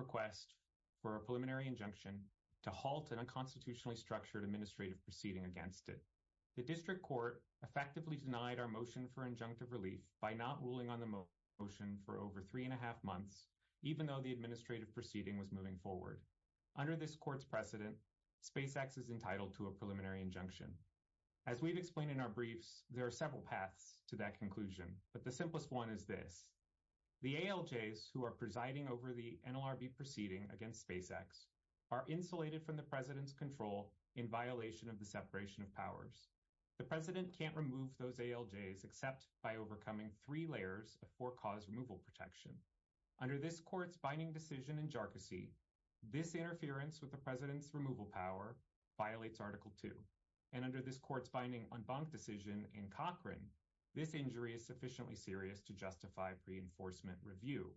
request for a preliminary injunction to halt an unconstitutionally structured administrative proceeding against it. The district court effectively denied our motion for injunctive relief by not ruling on the motion for over three and a half months, even though the administrative proceeding was moving forward. Under this court's precedent, SpaceX is entitled to a preliminary injunction. As we've explained in our briefs, there are several paths to that conclusion, but the simplest one is this. The ALJs who are presiding over the NLRB proceeding against SpaceX are insulated from the president's control in violation of the separation of powers. The president can't remove those ALJs except by overcoming three layers of four-cause removal protection. Under this court's binding decision in Jarkissi, this interference with the president's removal power violates Article 2. And under this court's binding en banc decision in Cochrane, this injury is sufficiently serious to justify pre-enforcement review.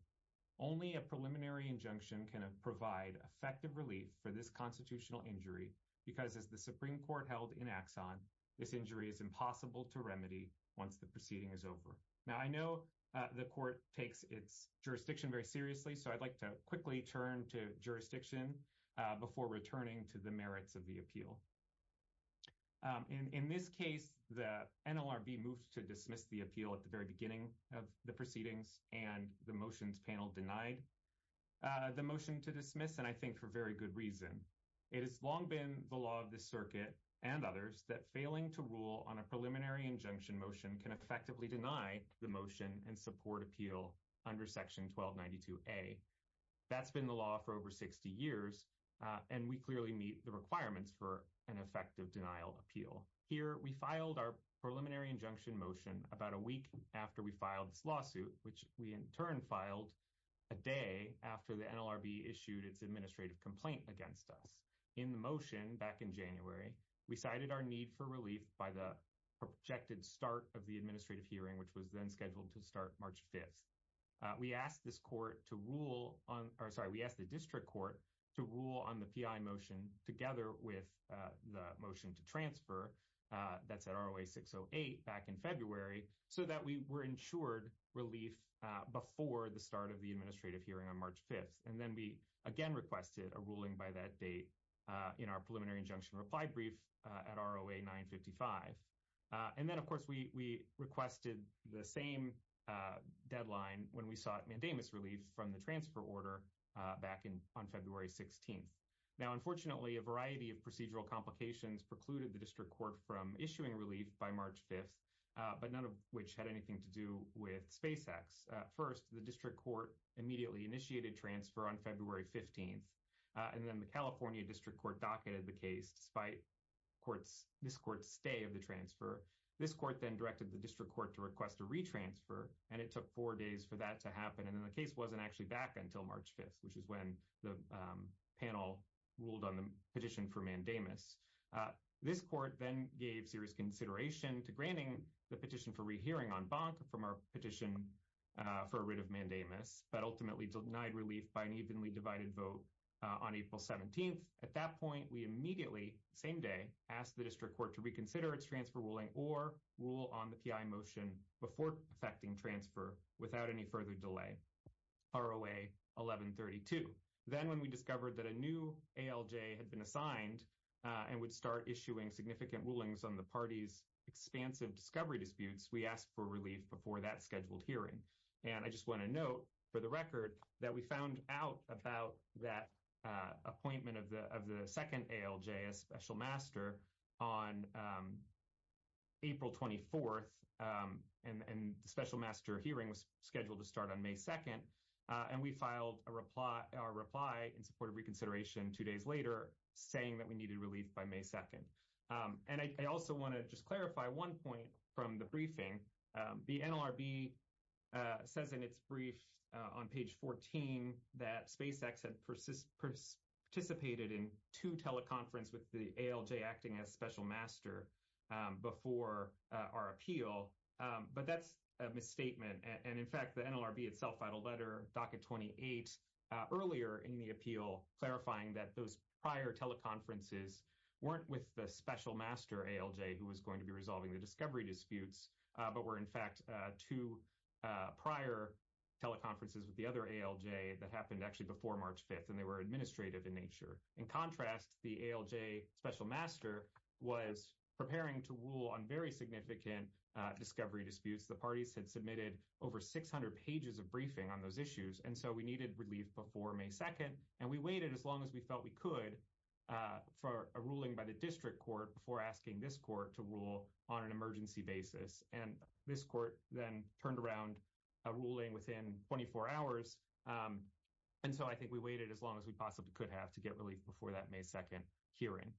Only a preliminary injunction can provide effective relief for this constitutional injury because, as the Supreme Court held in Axon, this injury is impossible to remedy once the proceeding is over. Now, I know the court takes its jurisdiction very seriously, so I'd like to quickly turn to jurisdiction before returning to the merits of the appeal. In this case, the NLRB moved to dismiss the appeal at the very beginning of the proceedings, and the motions panel denied the motion to dismiss, and I think for very good reason. It has long been the law of the circuit and others that failing to rule on a preliminary injunction motion can effectively deny the motion and support appeal under Section 1292A. That's been the law for over 60 years, and we clearly meet the requirements for an effective denial appeal. Here, we filed our preliminary injunction motion about a week after we filed this lawsuit, which we in turn filed a day after the NLRB issued its administrative complaint against us. In the motion back in January, we cited our need for relief by the projected start of the administrative hearing, which was then scheduled to start March 5th. We asked the district court to rule on the PI motion together with the motion to transfer, that's at ROA 608 back in February, so that we were ensured relief before the start of the administrative hearing on March 5th. And then we again requested a ruling by that date in our preliminary injunction reply brief at ROA 955. And then, of course, we requested the same deadline when we sought mandamus relief from the transfer order back in on February 16th. Now, unfortunately, a variety of procedural complications precluded the district court from issuing relief by March 5th, but none of which had anything to do with SpaceX. First, the district court immediately initiated transfer on February 15th, and then the California district court docketed the case despite this court's stay of the transfer. This court then directed the district court to request a retransfer, and it took four days for that to happen. And then the case wasn't actually back until March 5th, which is when the panel ruled on the petition for mandamus. This court then gave serious consideration to granting the petition for rehearing en banc from our petition for a writ of mandamus, but ultimately denied relief by an At that point, we immediately, same day, asked the district court to reconsider its transfer ruling or rule on the PI motion before effecting transfer without any further delay, ROA 1132. Then, when we discovered that a new ALJ had been assigned and would start issuing significant rulings on the party's expansive discovery disputes, we asked for relief before that scheduled hearing. And I just want to note for the record that we found out about that appointment of the second ALJ, a special master, on April 24th, and the special master hearing was scheduled to start on May 2nd. And we filed our reply in support of reconsideration two days later, saying that we needed relief by May 2nd. And I also want to just clarify one point from the briefing. The NLRB says in its brief on page 14 that SpaceX had participated in two teleconference with the ALJ acting as special master before our appeal, but that's a misstatement. And in fact, the NLRB itself filed a letter, docket 28, earlier in the appeal clarifying that those prior teleconferences weren't with the special master ALJ who was going to be resolving the discovery disputes, but were in fact two prior teleconferences with the other ALJ that happened actually before March 5th, and they were administrative in nature. In contrast, the ALJ special master was preparing to rule on very significant discovery disputes. The parties had submitted over 600 pages of briefing on those issues, and so we needed relief before May 2nd. And we waited as long as we felt we could for a ruling by the district court before asking this court to rule on an emergency basis. And this court then turned around a ruling within 24 hours, and so I think we waited as long as we possibly could have to get relief before that May 2nd hearing.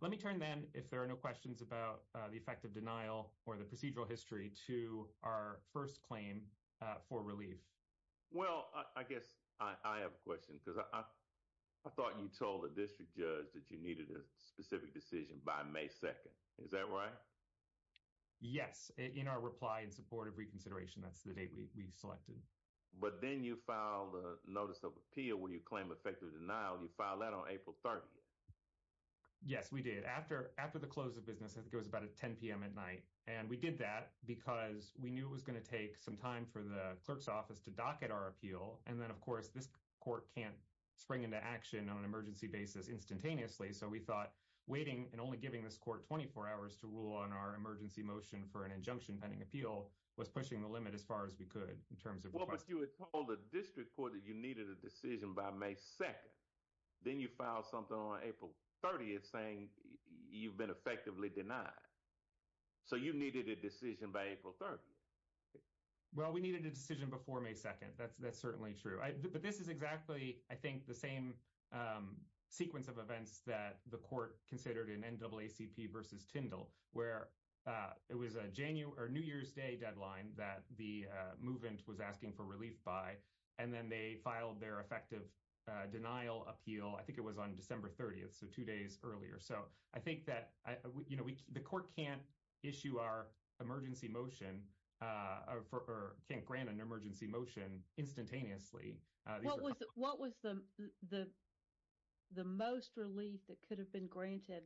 Let me turn then, if there are no questions about the effect of denial or the procedural history, to our first claim for relief. Well, I guess I have a question because I thought you told the district judge that you needed a specific decision by May 2nd. Is that right? Yes. In our reply in support of reconsideration, that's the date we selected. But then you filed a notice of appeal where you claim effective denial. You filed that on April 30th. Yes, we did. After the close of business, I think it was about at 10 p.m. at night, and we did that because we knew it was going to take some time for the clerk's office to docket our appeal. And then, of course, this court can't spring into action on an emergency basis instantaneously. So we thought waiting and only giving this court 24 hours to rule on our emergency motion for an injunction pending appeal was pushing the limit as far as we could in terms of request. Well, but you had told the district court that you needed a decision by May 2nd. Then you filed something on April 30th saying you've been effectively denied. So you needed a decision by April 30th. Well, we needed a decision before May 2nd. That's certainly true. But this is exactly, I think, the same sequence of events that the court considered in NAACP versus Tyndall, where it was a January or New Year's Day deadline that the movement was asking for relief by. And then they filed their effective denial appeal. I think it was on December 30th, so two days earlier. So I think that, you know, the court can't issue our emergency motion or can't grant an emergency motion instantaneously. What was the most relief that could have been granted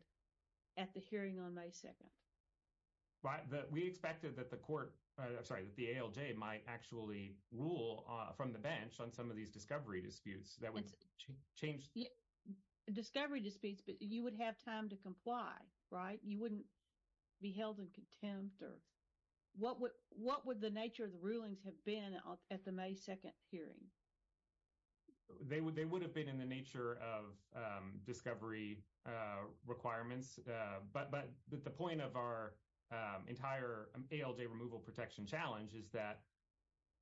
at the hearing on May 2nd? We expected that the court, I'm sorry, that the ALJ might actually rule from the bench on some of these discovery disputes that would change. Discovery disputes, but you would have time to comply, right? You wouldn't be held in contempt. What would the nature of the rulings have been at the May 2nd hearing? They would have been in the nature of discovery requirements. But the point of our entire ALJ removal protection challenge is that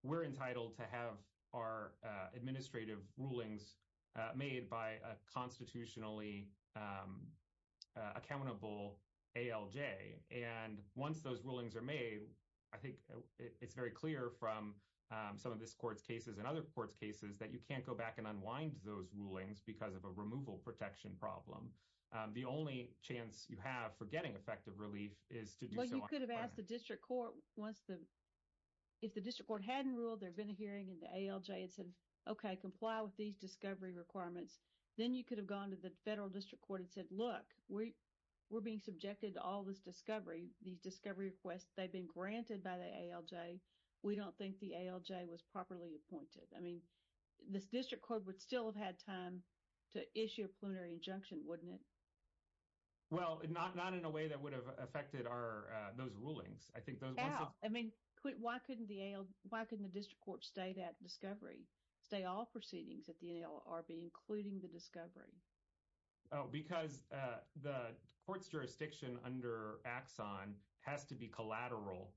we're entitled to have our administrative rulings made by a constitutionally accountable ALJ. And once those rulings are made, I think it's very clear from some of this court's cases and other courts' cases that you can't go back and unwind those rulings because of a removal protection problem. The only chance you have for getting effective relief is to do so on the bench. Well, you could have asked the district court once the, if the district court hadn't ruled there had been a hearing in the ALJ and said, okay, comply with these discovery requirements. Then you could have gone to the federal district court and said, look, we're being subjected to all this discovery. These discovery requests, they've been granted by the ALJ. We don't think the ALJ was properly appointed. I mean, this district court would still have had time to issue a preliminary injunction, wouldn't it? Well, not in a way that would have affected those rulings. I think those ones... Why couldn't the ALJ, why couldn't the district court stay that discovery, stay all proceedings at the NLRB, including the discovery? Oh, because the court's jurisdiction under Axon has to be collateral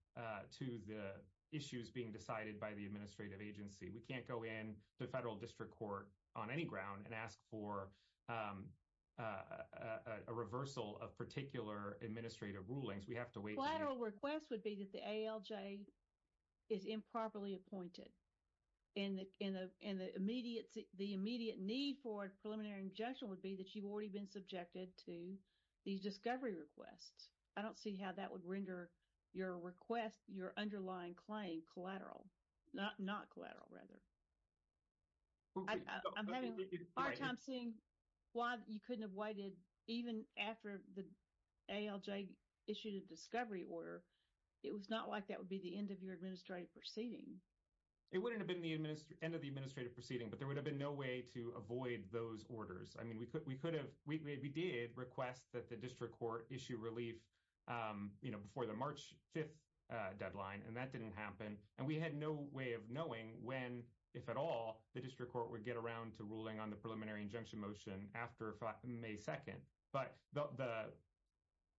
to the issues being decided by the administrative agency. We can't go in the federal district court on any ground and ask for a reversal of particular administrative rulings. We have to wait... A collateral request would be that the ALJ is improperly appointed. And the immediate need for a preliminary injunction would be that you've already been subjected to these discovery requests. I don't see how that would render your request, your underlying claim collateral, not collateral rather. I'm having a hard time seeing why you couldn't have waited even after the ALJ issued a discovery order. It was not like that would be the end of your administrative proceeding. It wouldn't have been the end of the administrative proceeding, but there would have been no way to avoid those orders. I mean, we did request that the district court issue relief before the March 5th deadline, and that didn't happen. And we had no way of knowing when, if at all, the district court would get around to ruling on the preliminary injunction motion after May 2nd. But the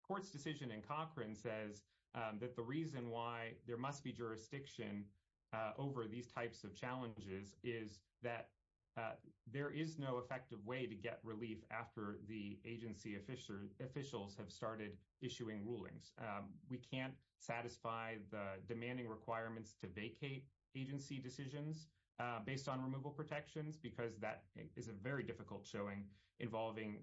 court's decision in Cochran says that the reason why there must be jurisdiction over these types of challenges is that there is no effective way to get relief after the agency officials have started issuing rulings. We can't satisfy the demanding requirements to vacate agency decisions based on removal protections because that is a very difficult showing involving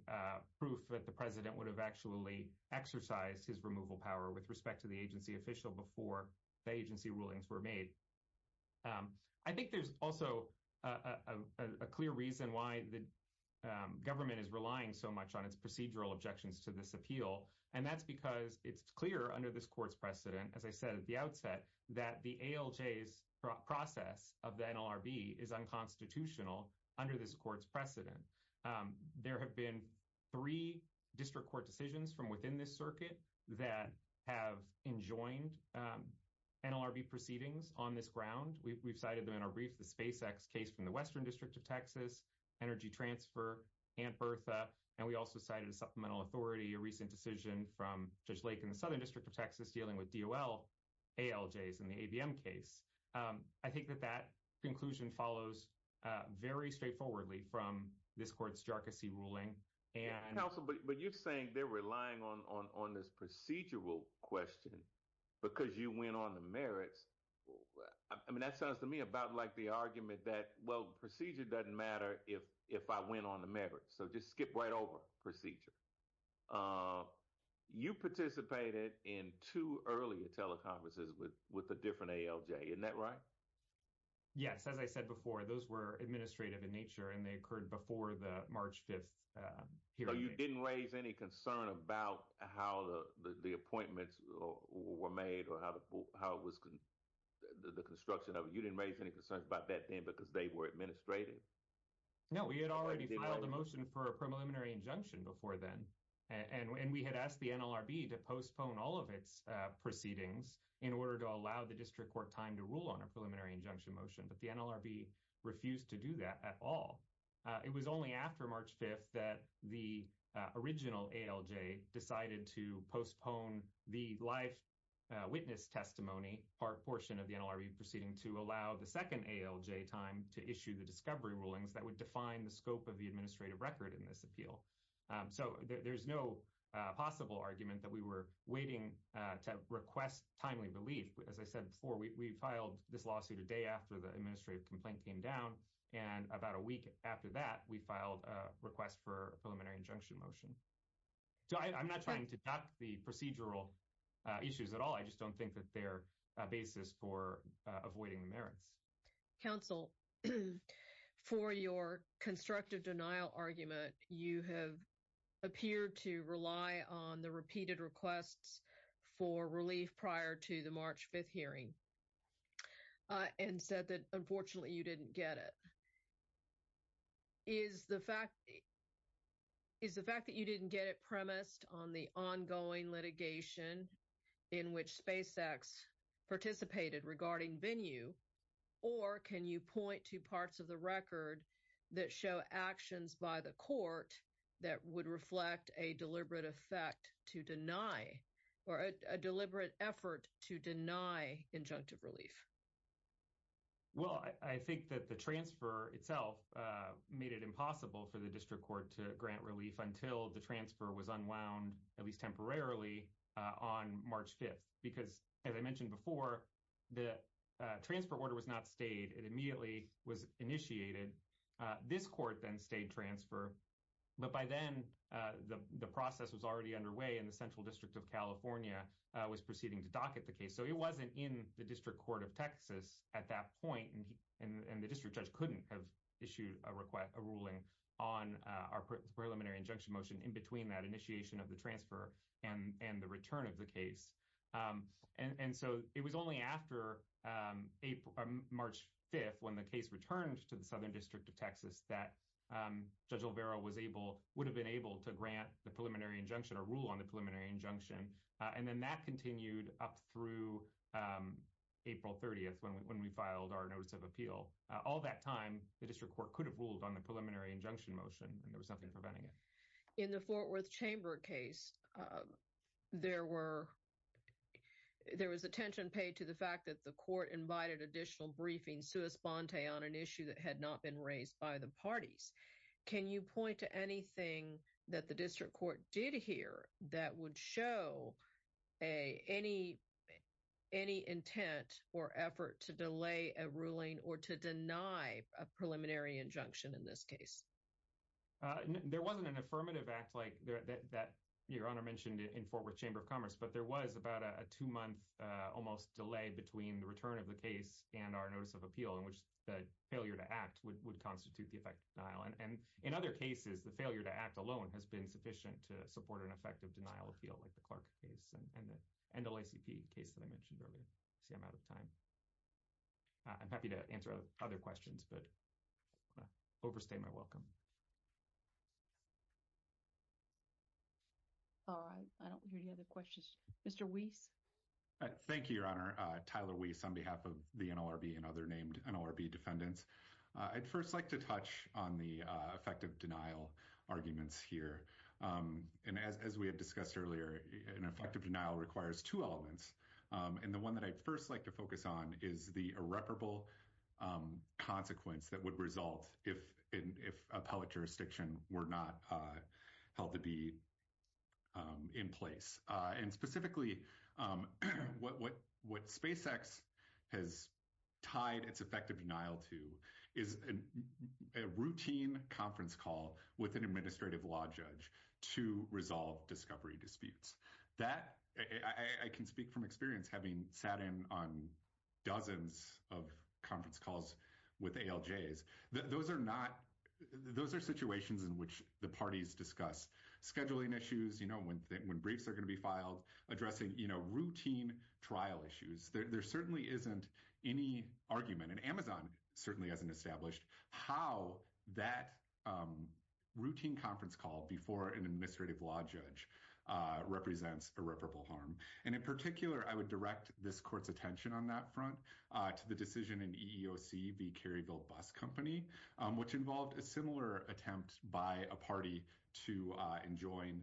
proof that the president would have actually exercised his removal power with respect to the agency official before the agency rulings were made. I think there's also a clear reason why the government is relying so much on its procedural objections to this appeal, and that's because it's clear under this court's precedent, as I said at the outset, that the ALJ's process of the NLRB is unconstitutional under this court's precedent. There have been three district court decisions from within this circuit that have enjoined NLRB proceedings on this ground. We've cited them in our brief, the SpaceX case from the Western District of Texas, Energy Transfer, and Bertha. And we also cited a supplemental authority, a recent decision from Judge Lake in the Southern District of Texas dealing with DOL, ALJs, and the ABM case. I think that that conclusion follows very straightforwardly from this court's jarcossi ruling. And... Counsel, but you're saying they're relying on this procedural question because you went on the merits. I mean, that sounds to me about like the argument that, well, procedure doesn't matter if I went on the merits. So just skip right over procedure. You participated in two earlier teleconferences with a different ALJ, isn't that right? Yes. As I said before, those were administrative in nature, and they occurred before the March 5th hearing. So you didn't raise any concern about how the appointments were made or how it was, the construction of it. You didn't raise any concerns about that then because they were administrative? No, we had already filed a motion for a preliminary injunction before then. And we had asked the NLRB to postpone all of its proceedings in order to allow the district court time to rule on a preliminary injunction motion. But the NLRB refused to do that at all. It was only after March 5th that the original ALJ decided to postpone the live witness testimony portion of the NLRB proceeding to allow the second ALJ time to issue the discovery rulings that would the scope of the administrative record in this appeal. So there's no possible argument that we were waiting to request timely relief. As I said before, we filed this lawsuit a day after the administrative complaint came down. And about a week after that, we filed a request for a preliminary injunction motion. So I'm not trying to duck the procedural issues at all. I just don't think that they're a basis for avoiding merits. Council, for your constructive denial argument, you have appeared to rely on the repeated requests for relief prior to the March 5th hearing and said that unfortunately you didn't get it. Is the fact that you didn't get it premised on the ongoing litigation in which SpaceX participated regarding venue? Or can you point to parts of the record that show actions by the court that would reflect a deliberate effect to deny or a deliberate effort to deny injunctive relief? Well, I think that the transfer itself made it impossible for the district court to grant relief until the transfer was unwound, at least temporarily, on March 5th. Because as I mentioned before, the transfer order was not stayed. It immediately was initiated. This court then stayed transfer. But by then, the process was already underway and the Central District of California was proceeding to docket the case. So it wasn't in the District Court of that point. And the district judge couldn't have issued a ruling on our preliminary injunction motion in between that initiation of the transfer and the return of the case. And so it was only after March 5th, when the case returned to the Southern District of Texas, that Judge Olvera would have been able to grant the preliminary injunction or rule on the preliminary injunction. And then that continued up through April 30th, when we filed our notice of appeal. All that time, the district court could have ruled on the preliminary injunction motion, and there was nothing preventing it. In the Fort Worth Chamber case, there was attention paid to the fact that the court invited additional briefing sui sponte on an issue that had not been raised by the parties. Can you point to anything that the district court did hear that would show any intent or effort to delay a ruling or to deny a preliminary injunction in this case? There wasn't an affirmative act like that Your Honor mentioned in Fort Worth Chamber of Commerce, but there was about a two-month almost delay between the return of the case and our notice of appeal in which the failure to act would constitute the effect of denial. And in other cases, the failure to act alone has been sufficient to support an effective denial appeal like the Clark case and the NLACP case that I mentioned earlier. I see I'm out of time. I'm happy to answer other questions, but I want to overstay my welcome. All right. I don't hear any other questions. Mr. Weiss? Thank you, Your Honor. Tyler Weiss on behalf of the NLRB and other named NLRB defendants. I'd first like to touch on the effective denial arguments here. And as we had discussed earlier, an effective denial requires two elements. And the one that I'd first like to focus on is the irreparable consequence that would result if appellate jurisdiction were not held to be in place. And specifically, what SpaceX has tied its effective denial to is a routine conference call with an administrative law judge to resolve discovery disputes. I can speak from experience having sat in on dozens of conference calls with ALJs. Those are situations in which the parties discuss scheduling issues, when briefs are going to be filed, addressing routine trial issues. There certainly isn't any argument, and Amazon certainly hasn't established how that routine conference call before an administrative law judge represents irreparable harm. And in particular, I would direct this court's attention on that front to the decision in EEOC v. Kerryville Bus Company, which involved a similar attempt by a party to enjoin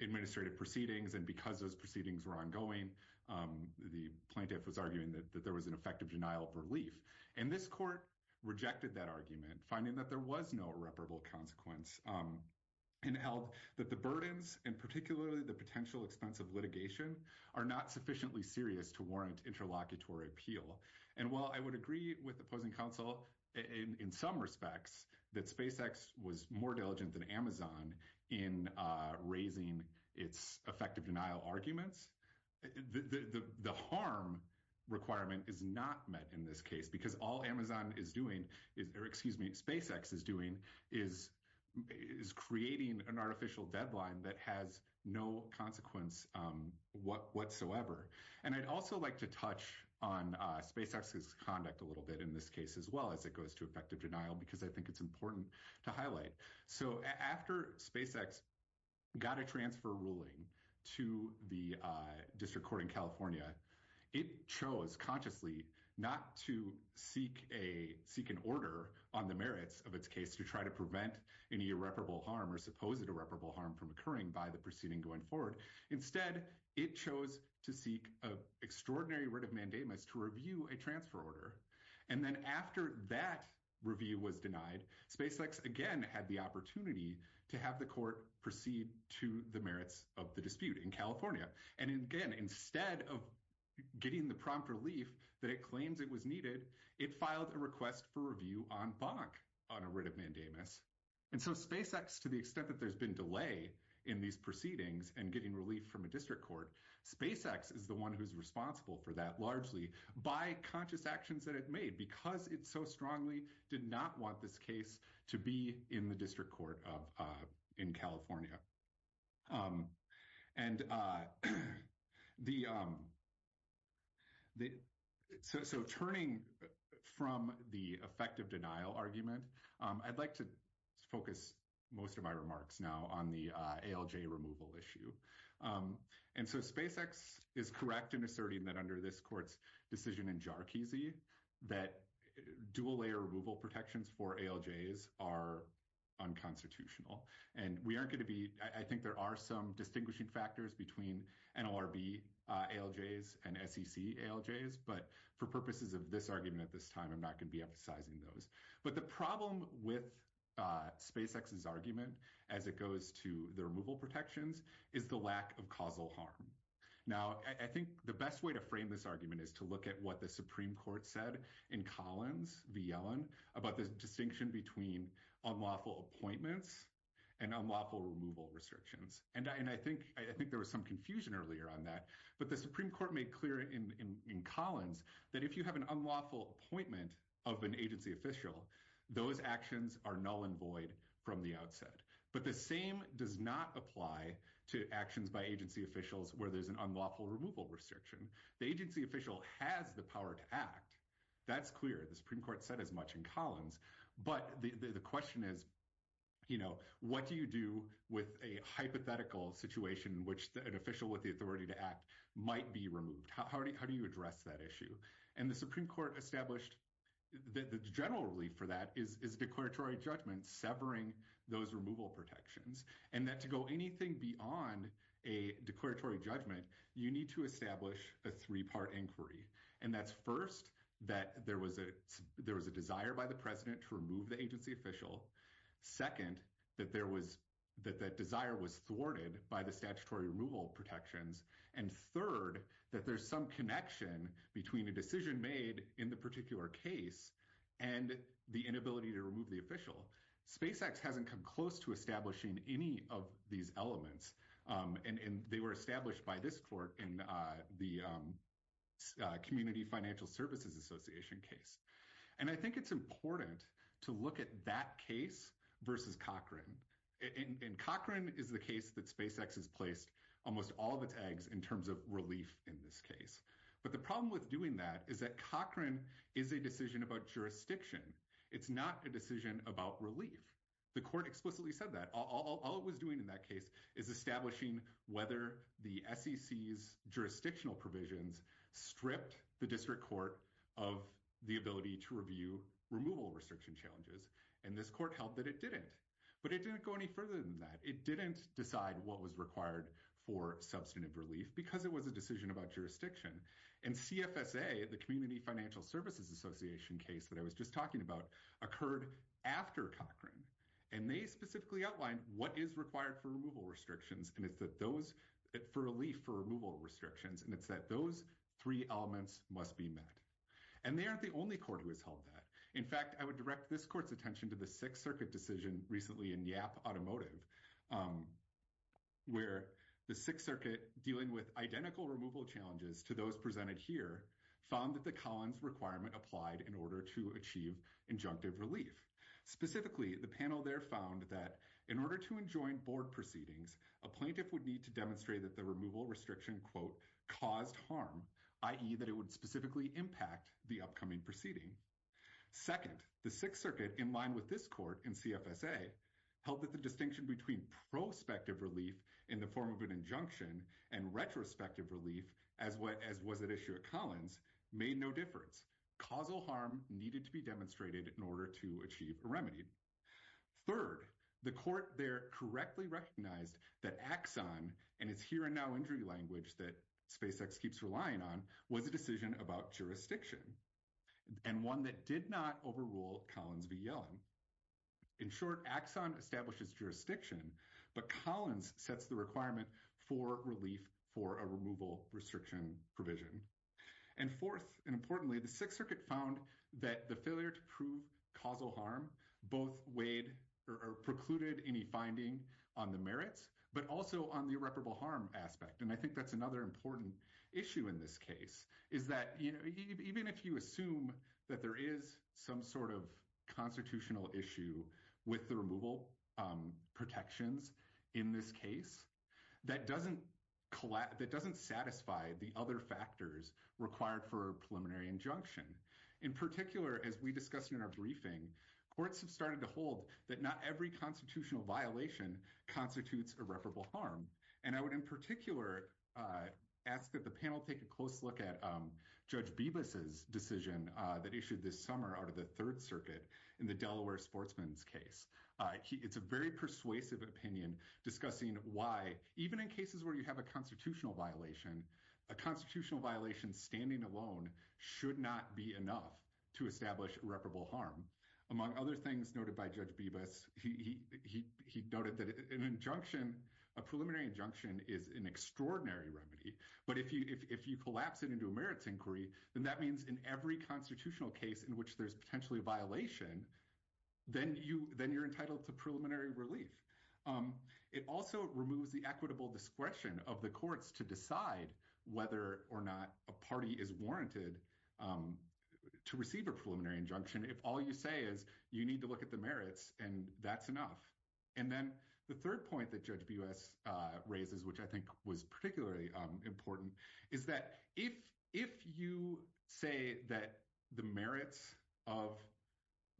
administrative proceedings. And because those proceedings were ongoing, the plaintiff was arguing that there was an effective denial of relief. And this court rejected that argument, finding that there was no irreparable consequence, and held that the burdens, and particularly the potential expense of litigation, are not sufficiently serious to warrant interlocutory appeal. And while I would agree with opposing counsel in some respects that SpaceX was more diligent than Amazon in raising its effective denial arguments, the harm requirement is not met in this case, because all Amazon is doing, or excuse me, SpaceX is doing, is creating an artificial deadline that has no consequence whatsoever. And I'd also like to touch on SpaceX's conduct a little bit in this case, as well as it goes to effective denial, because I think it's important to highlight. So after SpaceX got a transfer ruling to the District Court in California, it chose consciously not to seek an order on the merits of its case to try to prevent any irreparable harm, or supposed irreparable harm, from occurring by the proceeding going forward. Instead, it chose to seek an extraordinary writ of mandamus to review a transfer order. And then after that review was denied, SpaceX again had the opportunity to have the court proceed to the merits of the dispute in California. And again, instead of getting the prompt relief that it claims it was needed, it filed a request for review en banc on a writ of mandamus. And so SpaceX, to the extent that there's been delay in these proceedings and getting relief from a District Court, SpaceX is the one who's responsible for that, largely by conscious actions that it made, because it so strongly did not want this case to be in the District Court in California. So turning from the effective denial argument, I'd like to focus most of my remarks now on the ALJ removal issue. And so SpaceX is correct in asserting that under this court's decision in Jarkizi, that dual-layer removal protections for ALJs are unconstitutional. And we aren't going to I think there are some distinguishing factors between NLRB ALJs and SEC ALJs, but for purposes of this argument at this time, I'm not going to be emphasizing those. But the problem with SpaceX's argument as it goes to the removal protections is the lack of causal harm. Now, I think the best way to frame this argument is to look at what the Supreme Court said in Collins v. Yellen about distinction between unlawful appointments and unlawful removal restrictions. And I think there was some confusion earlier on that. But the Supreme Court made clear in Collins that if you have an unlawful appointment of an agency official, those actions are null and void from the outset. But the same does not apply to actions by agency officials where there's an unlawful removal restriction. The agency official has the power to act. That's clear. The Supreme Court said as much in Collins. But the question is, you know, what do you do with a hypothetical situation in which an official with the authority to act might be removed? How do you address that issue? And the Supreme Court established that the general relief for that is declaratory judgment severing those removal protections. And that to go anything beyond a declaratory judgment, you need to establish a three-part inquiry. And that's first, that there was a desire by the president to remove the agency official. Second, that that desire was thwarted by the statutory removal protections. And third, that there's some connection between a decision made in the particular case and the inability to remove the official. SpaceX hasn't come close to establishing any of these elements. And they were established by this court in the Community Financial Services Association case. And I think it's important to look at that case versus Cochran. And Cochran is the case that SpaceX has placed almost all the tags in terms of relief in this case. But the problem with doing that is that Cochran is a decision about jurisdiction. It's not a decision about relief. The court explicitly said that. All it was doing in that case is establishing whether the SEC's jurisdictional provisions stripped the district court of the ability to review removal restriction challenges. And this court held that it didn't. But it didn't go any further than that. It didn't decide what was required for substantive relief because it was a decision about jurisdiction. And CFSA, the Community Financial Services Association case that I was just talking about, occurred after Cochran. And they specifically outlined what is required for removal restrictions and it's that those, for relief for removal restrictions, and it's that those three elements must be met. And they aren't the only court who has held that. In fact, I would direct this court's attention to the Sixth Circuit decision recently in YAP Automotive, where the Sixth Circuit, dealing with identical removal challenges to those presented here, found that the Collins requirement applied in order to achieve injunctive relief. Specifically, the panel there found that in order to enjoin board proceedings, a plaintiff would need to demonstrate that the removal restriction, quote, caused harm, i.e. that it would specifically impact the upcoming proceeding. Second, the Sixth Circuit, in line with this court in CFSA, held that the distinction between prospective relief in the form of an injunction and retrospective relief, as was at issue at Collins, made no difference. Causal harm needed to be demonstrated in order to achieve a remedy. Third, the court there correctly recognized that Axon, and it's here and now injury language that SpaceX keeps relying on, was a decision about jurisdiction, and one that did not overrule Collins v. Yellen. In short, Axon establishes jurisdiction, but Collins sets the requirement for relief for a removal restriction provision. And fourth, and importantly, the Sixth Circuit found that the failure to prove causal harm both weighed or precluded any finding on the merits, but also on the irreparable harm aspect. And I think that's another important issue in this case, is that, you know, even if you assume that there is some sort of constitutional issue with the removal protections in this case, that doesn't satisfy the other factors required for a preliminary injunction. In particular, as we discussed in our briefing, courts have started to hold that not every constitutional violation constitutes irreparable harm. And I would in particular ask that the panel take a close look at Judge Bibas's decision that issued this summer out of the Third Circuit in the Even in cases where you have a constitutional violation, a constitutional violation standing alone should not be enough to establish irreparable harm. Among other things noted by Judge Bibas, he noted that an injunction, a preliminary injunction, is an extraordinary remedy. But if you collapse it into a merits inquiry, then that means in every constitutional case in which there's potentially a violation, then you're entitled to preliminary relief. It also removes the equitable discretion of the courts to decide whether or not a party is warranted to receive a preliminary injunction if all you say is you need to look at the merits and that's enough. And then the third point that Judge Bibas raises, which I think was particularly important, is that if you say that the merits of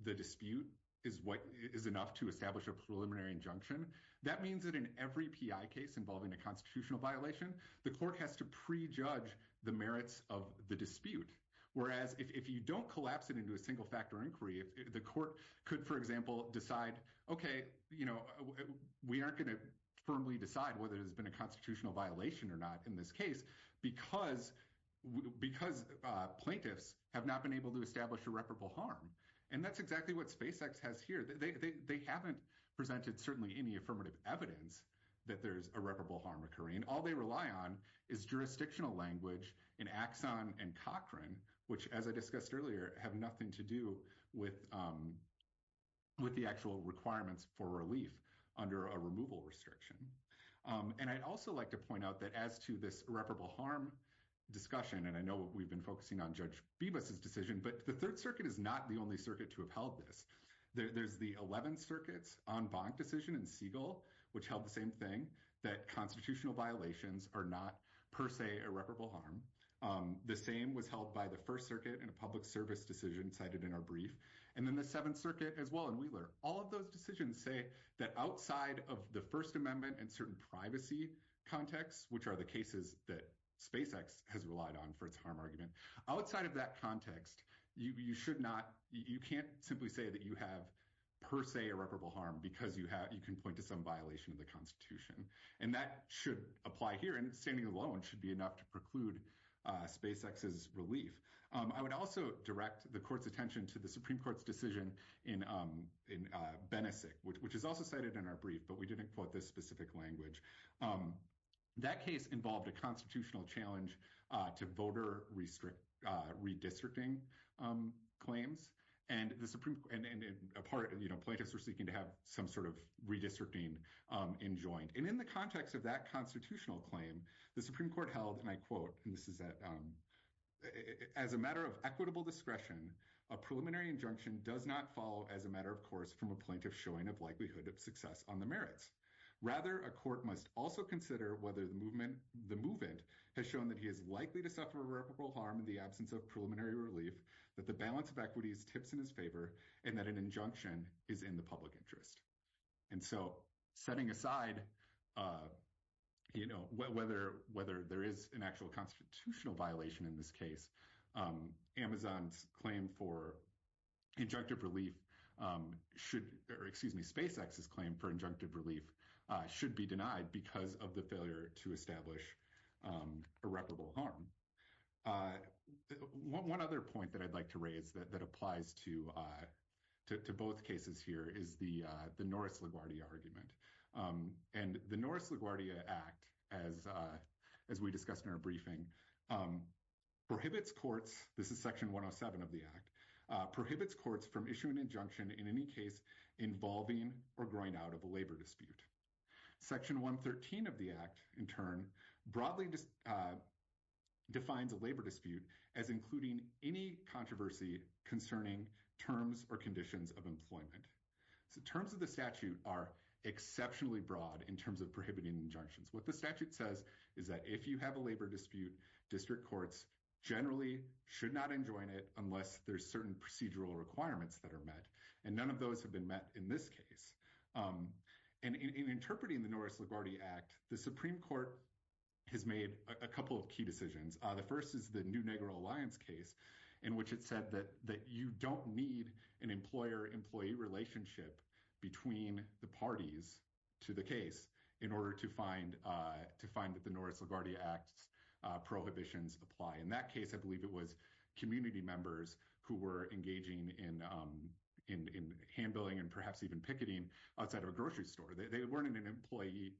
the dispute is enough to establish a preliminary injunction, that means that in every PI case involving a constitutional violation, the court has to prejudge the merits of the dispute. Whereas if you don't collapse it into a single-factor inquiry, the court could, for example, decide, okay, you know, we aren't going to firmly decide whether there's been a constitutional violation or not in this case because plaintiffs have not been able to establish irreparable harm. And that's exactly what SpaceX has here. They haven't presented certainly any affirmative evidence that there's irreparable harm occurring. All they rely on is jurisdictional language in Axon and Cochran, which, as I discussed earlier, have nothing to do with the actual requirements for relief under a removal restriction. And I'd also like to point out that as to this irreparable harm discussion, and I know we've been focusing on Judge Bibas's decision, but the Third Circuit is not the only circuit to have held this. There's the 11 circuits en banc decision in Siegel, which held the same thing, that constitutional violations are not per se irreparable harm. The same was held by the First Circuit in a public service decision cited in our brief. And then the Seventh Circuit as well in Wheeler. All of those decisions say that outside of the First Amendment and certain privacy contexts, which are the cases that SpaceX has relied on for its harm argument, outside of that context, you should not, you can't simply say that you have per se irreparable harm because you can point to some violation of the Constitution. And that should apply here, and standing alone should be enough to preclude SpaceX's relief. I would also direct the Court's attention to the Supreme Court's decision in Benesik, which is also cited in our brief, but we didn't quote this specific language. That case involved a constitutional challenge to voter redistricting claims, and in part, you know, plaintiffs were seeking to have some sort of redistricting enjoined. And in the context of that constitutional claim, the Supreme Court held, and I quote, and this is that, as a matter of equitable discretion, a preliminary injunction does not follow as a matter of course from a plaintiff showing of likelihood of success on the merits. Rather, a court must also consider whether the movement, the movement has shown that he is likely to suffer irreparable harm in the absence of preliminary relief, that the balance of equity is tips in his favor, and that an injunction is in the public interest. And so, setting aside, you know, whether there is an actual constitutional violation in this case, Amazon's claim for injunctive relief should, or excuse me, SpaceX's claim for injunctive relief should be denied because of the failure to establish irreparable harm. One other point that I'd like to raise that applies to both cases here is the Norris LaGuardia argument. And the Norris LaGuardia Act, as we discussed in our briefing, prohibits courts, this is section 107 of the act, prohibits courts from issuing an injunction in any case involving or growing out of a labor dispute. Section 113 of the act, in turn, broadly defines a labor dispute as including any controversy concerning terms or conditions of employment. So, terms of the statute are exceptionally broad in terms of prohibiting injunctions. What the statute says is that if you have a labor dispute, district courts generally should not enjoin it unless there's certain procedural requirements that are met. And none of those have been met in this case. And in interpreting the Norris LaGuardia Act, the Supreme Court has made a couple of key decisions. The first is the New Negro Alliance case in which it said that you don't need an employer-employee relationship between the parties to the case in order to find that the Norris LaGuardia Act's prohibitions apply. In that case, I believe it was community members who were engaging in hand-billing and perhaps even picketing outside of a grocery store. They weren't in an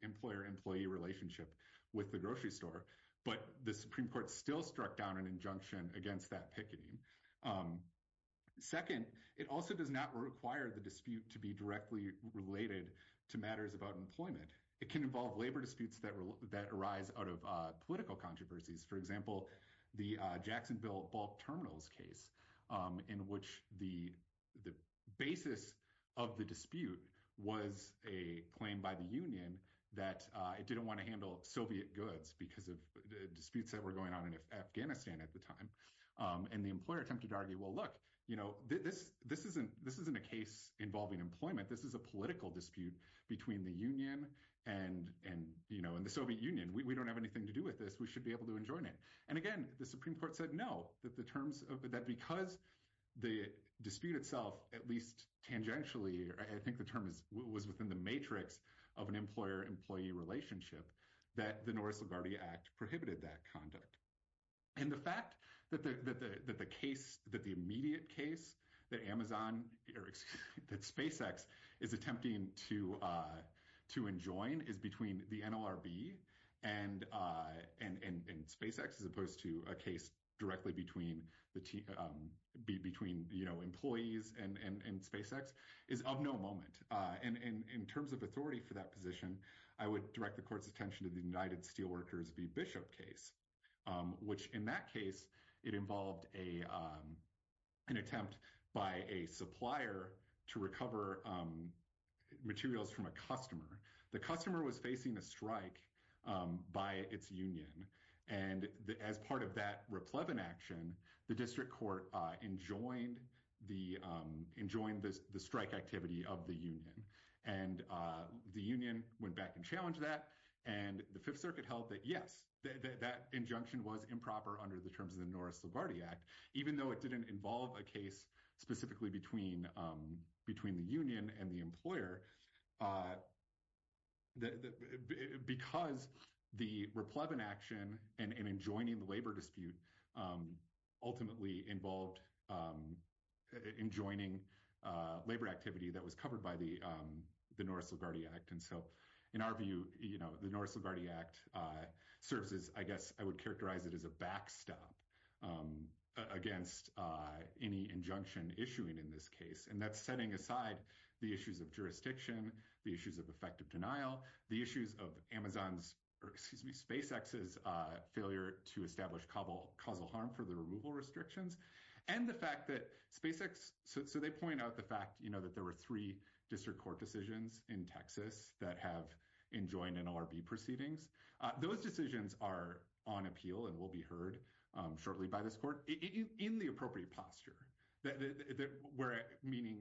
employer-employee relationship with the grocery store, but the Supreme Court still struck down an injunction against that picketing. Second, it also does not require the dispute to be directly related to matters about employment. It can involve labor disputes that arise out of political controversies. For example, the Jacksonville bulk terminals case in which the basis of the dispute was a claim by the union that it didn't want to handle Soviet goods because of disputes that were going on in Afghanistan at the time. And the employer attempted to argue, well, look, this isn't a case involving employment. This is a political dispute between the union and the Soviet Union. We don't have anything to do with this. We should be able to enjoin it. And again, the Supreme Court said no, that because the dispute itself, at least tangentially, I think the term was within the matrix of an employer-employee relationship, that the Norris LaGuardia Act prohibited that conduct. And the fact that the immediate case that SpaceX is attempting to enjoin is between the NLRB and SpaceX as opposed to a case directly between employees and SpaceX is of no moment. And in terms of authority for that position, I would direct the court's attention to the United Steelworkers v. Bishop case, which in that case, it involved an attempt by a supplier to recover materials from a customer. The customer was facing a strike by its union. And as part of that replevin action, the district court enjoined the strike activity of the union. And the union went back and challenged that. And the Fifth Circuit held that, yes, that injunction was improper under the terms of the Norris LaGuardia Act, even though it didn't involve a case specifically between the union and the employer, because the replevin action and enjoining the labor dispute ultimately involved enjoining labor activity that was covered by the Norris LaGuardia Act. And so in our view, the Norris LaGuardia Act serves as, I guess, I would characterize it as a backstop against any injunction issuing in this case. And that's setting aside the issues of jurisdiction, the issues of effective denial, the issues of Amazon's, excuse me, SpaceX's failure to establish causal harm for the removal restrictions, and the fact that SpaceX, so they point out the fact that there were three district court decisions in Texas that have enjoined NLRB proceedings. Those decisions are on appeal and will be heard shortly by this court in the appropriate posture, meaning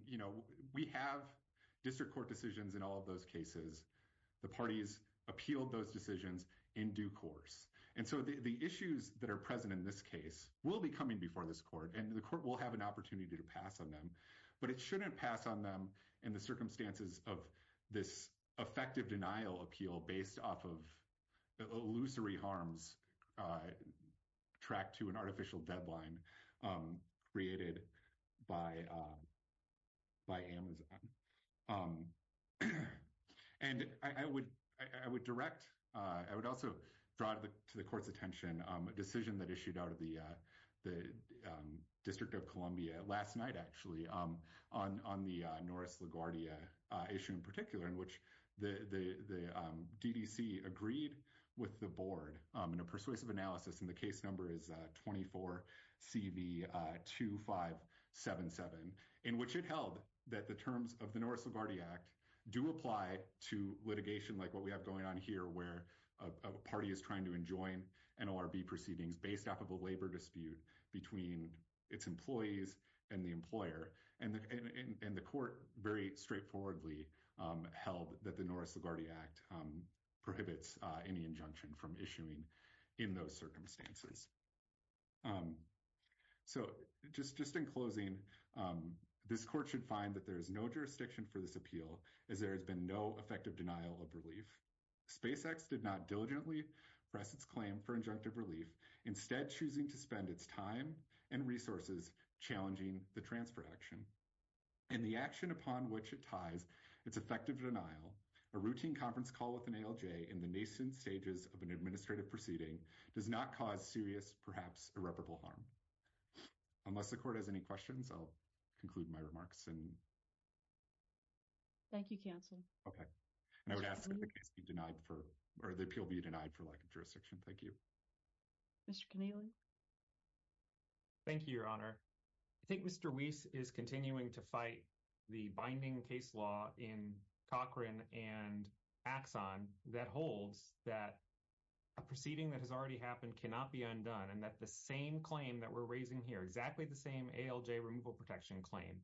we have district court decisions in all of those cases. The parties appealed those decisions in due course. And so the issues that are present in this case will be coming before this court, and the court will have an opportunity to pass on them, but it shouldn't pass on them in the circumstances of this effective denial appeal based off of illusory harms tracked to an artificial deadline created by Amazon. And I would direct, I would also draw to the court's attention a decision that issued out of District of Columbia last night, actually, on the Norris LaGuardia issue in particular, in which the DDC agreed with the board in a persuasive analysis, and the case number is 24CV2577, in which it held that the terms of the Norris LaGuardia Act do apply to litigation like what we have going on here, where a party is trying to enjoin NLRB proceedings based off of a labor dispute between its employees and the employer. And the court very straightforwardly held that the Norris LaGuardia Act prohibits any injunction from issuing in those circumstances. So just in closing, this court should find that there is no jurisdiction for this appeal, as there has been no effective denial of relief. SpaceX did not diligently press its claim for relief, instead choosing to spend its time and resources challenging the transfer action. And the action upon which it ties its effective denial, a routine conference call with an ALJ in the nascent stages of an administrative proceeding, does not cause serious, perhaps irreparable harm. Unless the court has any questions, I'll conclude my remarks and... Thank you, counsel. Okay. And I would ask that the case be denied for, or the appeal be denied for lack of jurisdiction. Thank you. Mr. Kenealy? Thank you, Your Honor. I think Mr. Weiss is continuing to fight the binding case law in Cochrane and Axon that holds that a proceeding that has already happened cannot be undone, and that the same claim that we're raising here, exactly the same ALJ removal protection claim,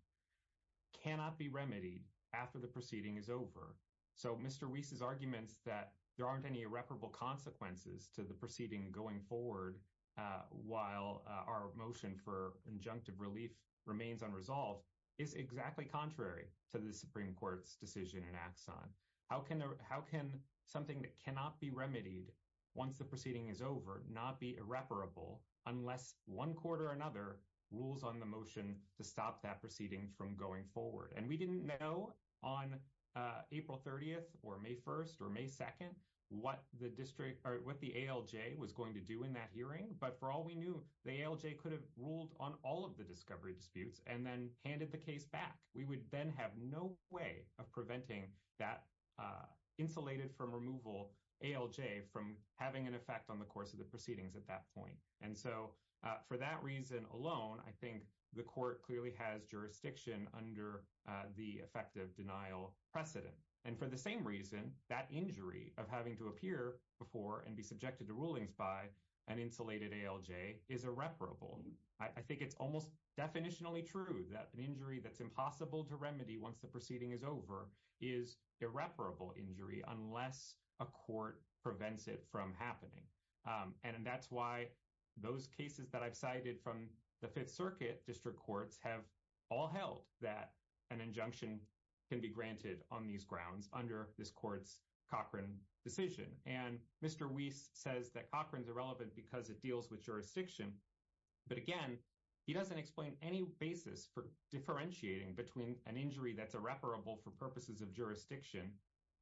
cannot be remedied after the proceeding is over. So Mr. Weiss's arguments that there aren't any irreparable consequences to the proceeding going forward while our motion for injunctive relief remains unresolved is exactly contrary to the Supreme Court's decision in Axon. How can something that cannot be remedied once the proceeding is over not be irreparable unless one court or another rules on the motion to stop that proceeding from going forward? And we didn't know on April 30th or May 1st or May 2nd what the ALJ was going to do in that hearing, but for all we knew, the ALJ could have ruled on all of the discovery disputes and then handed the case back. We would then have no way of preventing that insulated from removal ALJ from having an effect on the course of the proceedings at that point. And so for that reason alone, I think the court clearly has jurisdiction under the effective denial precedent. And for the same reason, that injury of having to appear before and be subjected to rulings by an insulated ALJ is irreparable. I think it's almost definitionally true that an injury that's impossible to remedy once the proceeding is over is irreparable injury unless a court prevents it from happening. And that's why those cases that I've cited from the Fifth Circuit district courts have all held that an injunction can be granted on these grounds under this court's Cochran decision. And Mr. Weiss says that Cochran's irrelevant because it deals with jurisdiction, but again, he doesn't explain any basis for differentiating between an injury that's irreparable for purposes of jurisdiction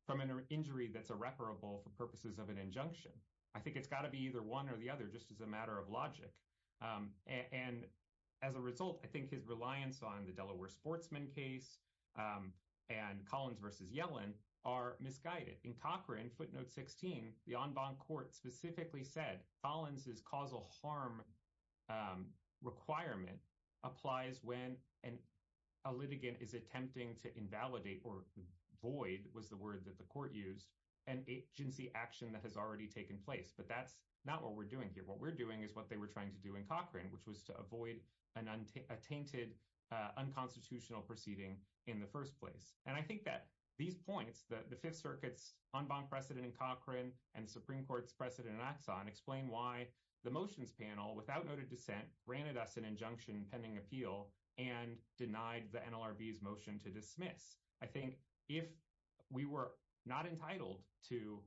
from an injury that's irreparable for purposes of an injunction. I think it's got to be either one or the other just as a matter of logic. And as a result, I think his reliance on the Delaware sportsman case and Collins versus Yellen are misguided. In Cochran, footnote 16, the en banc court specifically said Collins' causal harm requirement applies when a litigant is attempting to invalidate, or void was the word that the court used, an agency action that has already taken place. But that's not what we're doing here. What we're doing is what they were trying to do in Cochran, which was to avoid a tainted unconstitutional proceeding in the first place. And I think that these points, the Fifth Circuit's en banc precedent in Cochran and the Supreme Court's precedent in Axon explain why the motions panel, without noted dissent, granted us an injunction pending appeal and denied the NLRV's motion to dismiss. I think if we were not entitled to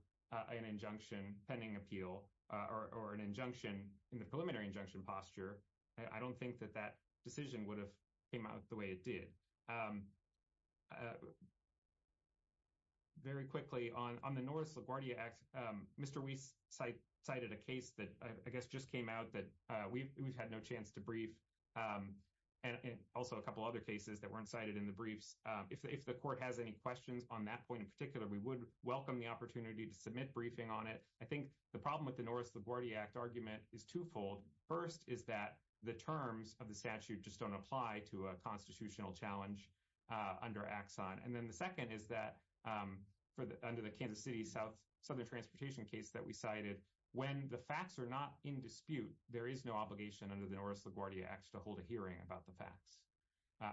an injunction pending appeal or an injunction in the preliminary injunction posture, I don't think that that decision would have came out the way it did. Very quickly, on the Norris LaGuardia Act, Mr. Weiss cited a case that I guess just came out that we've had no chance to brief, and also a couple other cases that weren't cited in the briefs. If the court has any questions on that point in particular, we would welcome the opportunity to submit briefing on it. I think the problem with the Norris LaGuardia Act argument is twofold. First is that the terms of the statute just don't apply to a constitutional challenge under Axon. And then the second is that under the Kansas City South Southern Transportation case that we cited, when the facts are not in dispute, there is no obligation under the Norris LaGuardia Act to hold a hearing about the facts.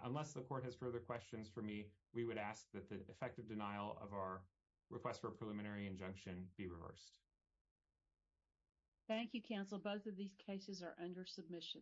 Unless the court has further questions for me, we would ask that the effective denial of our request for a preliminary injunction be reversed. Thank you, counsel. Both of these cases are under submission. Thank you.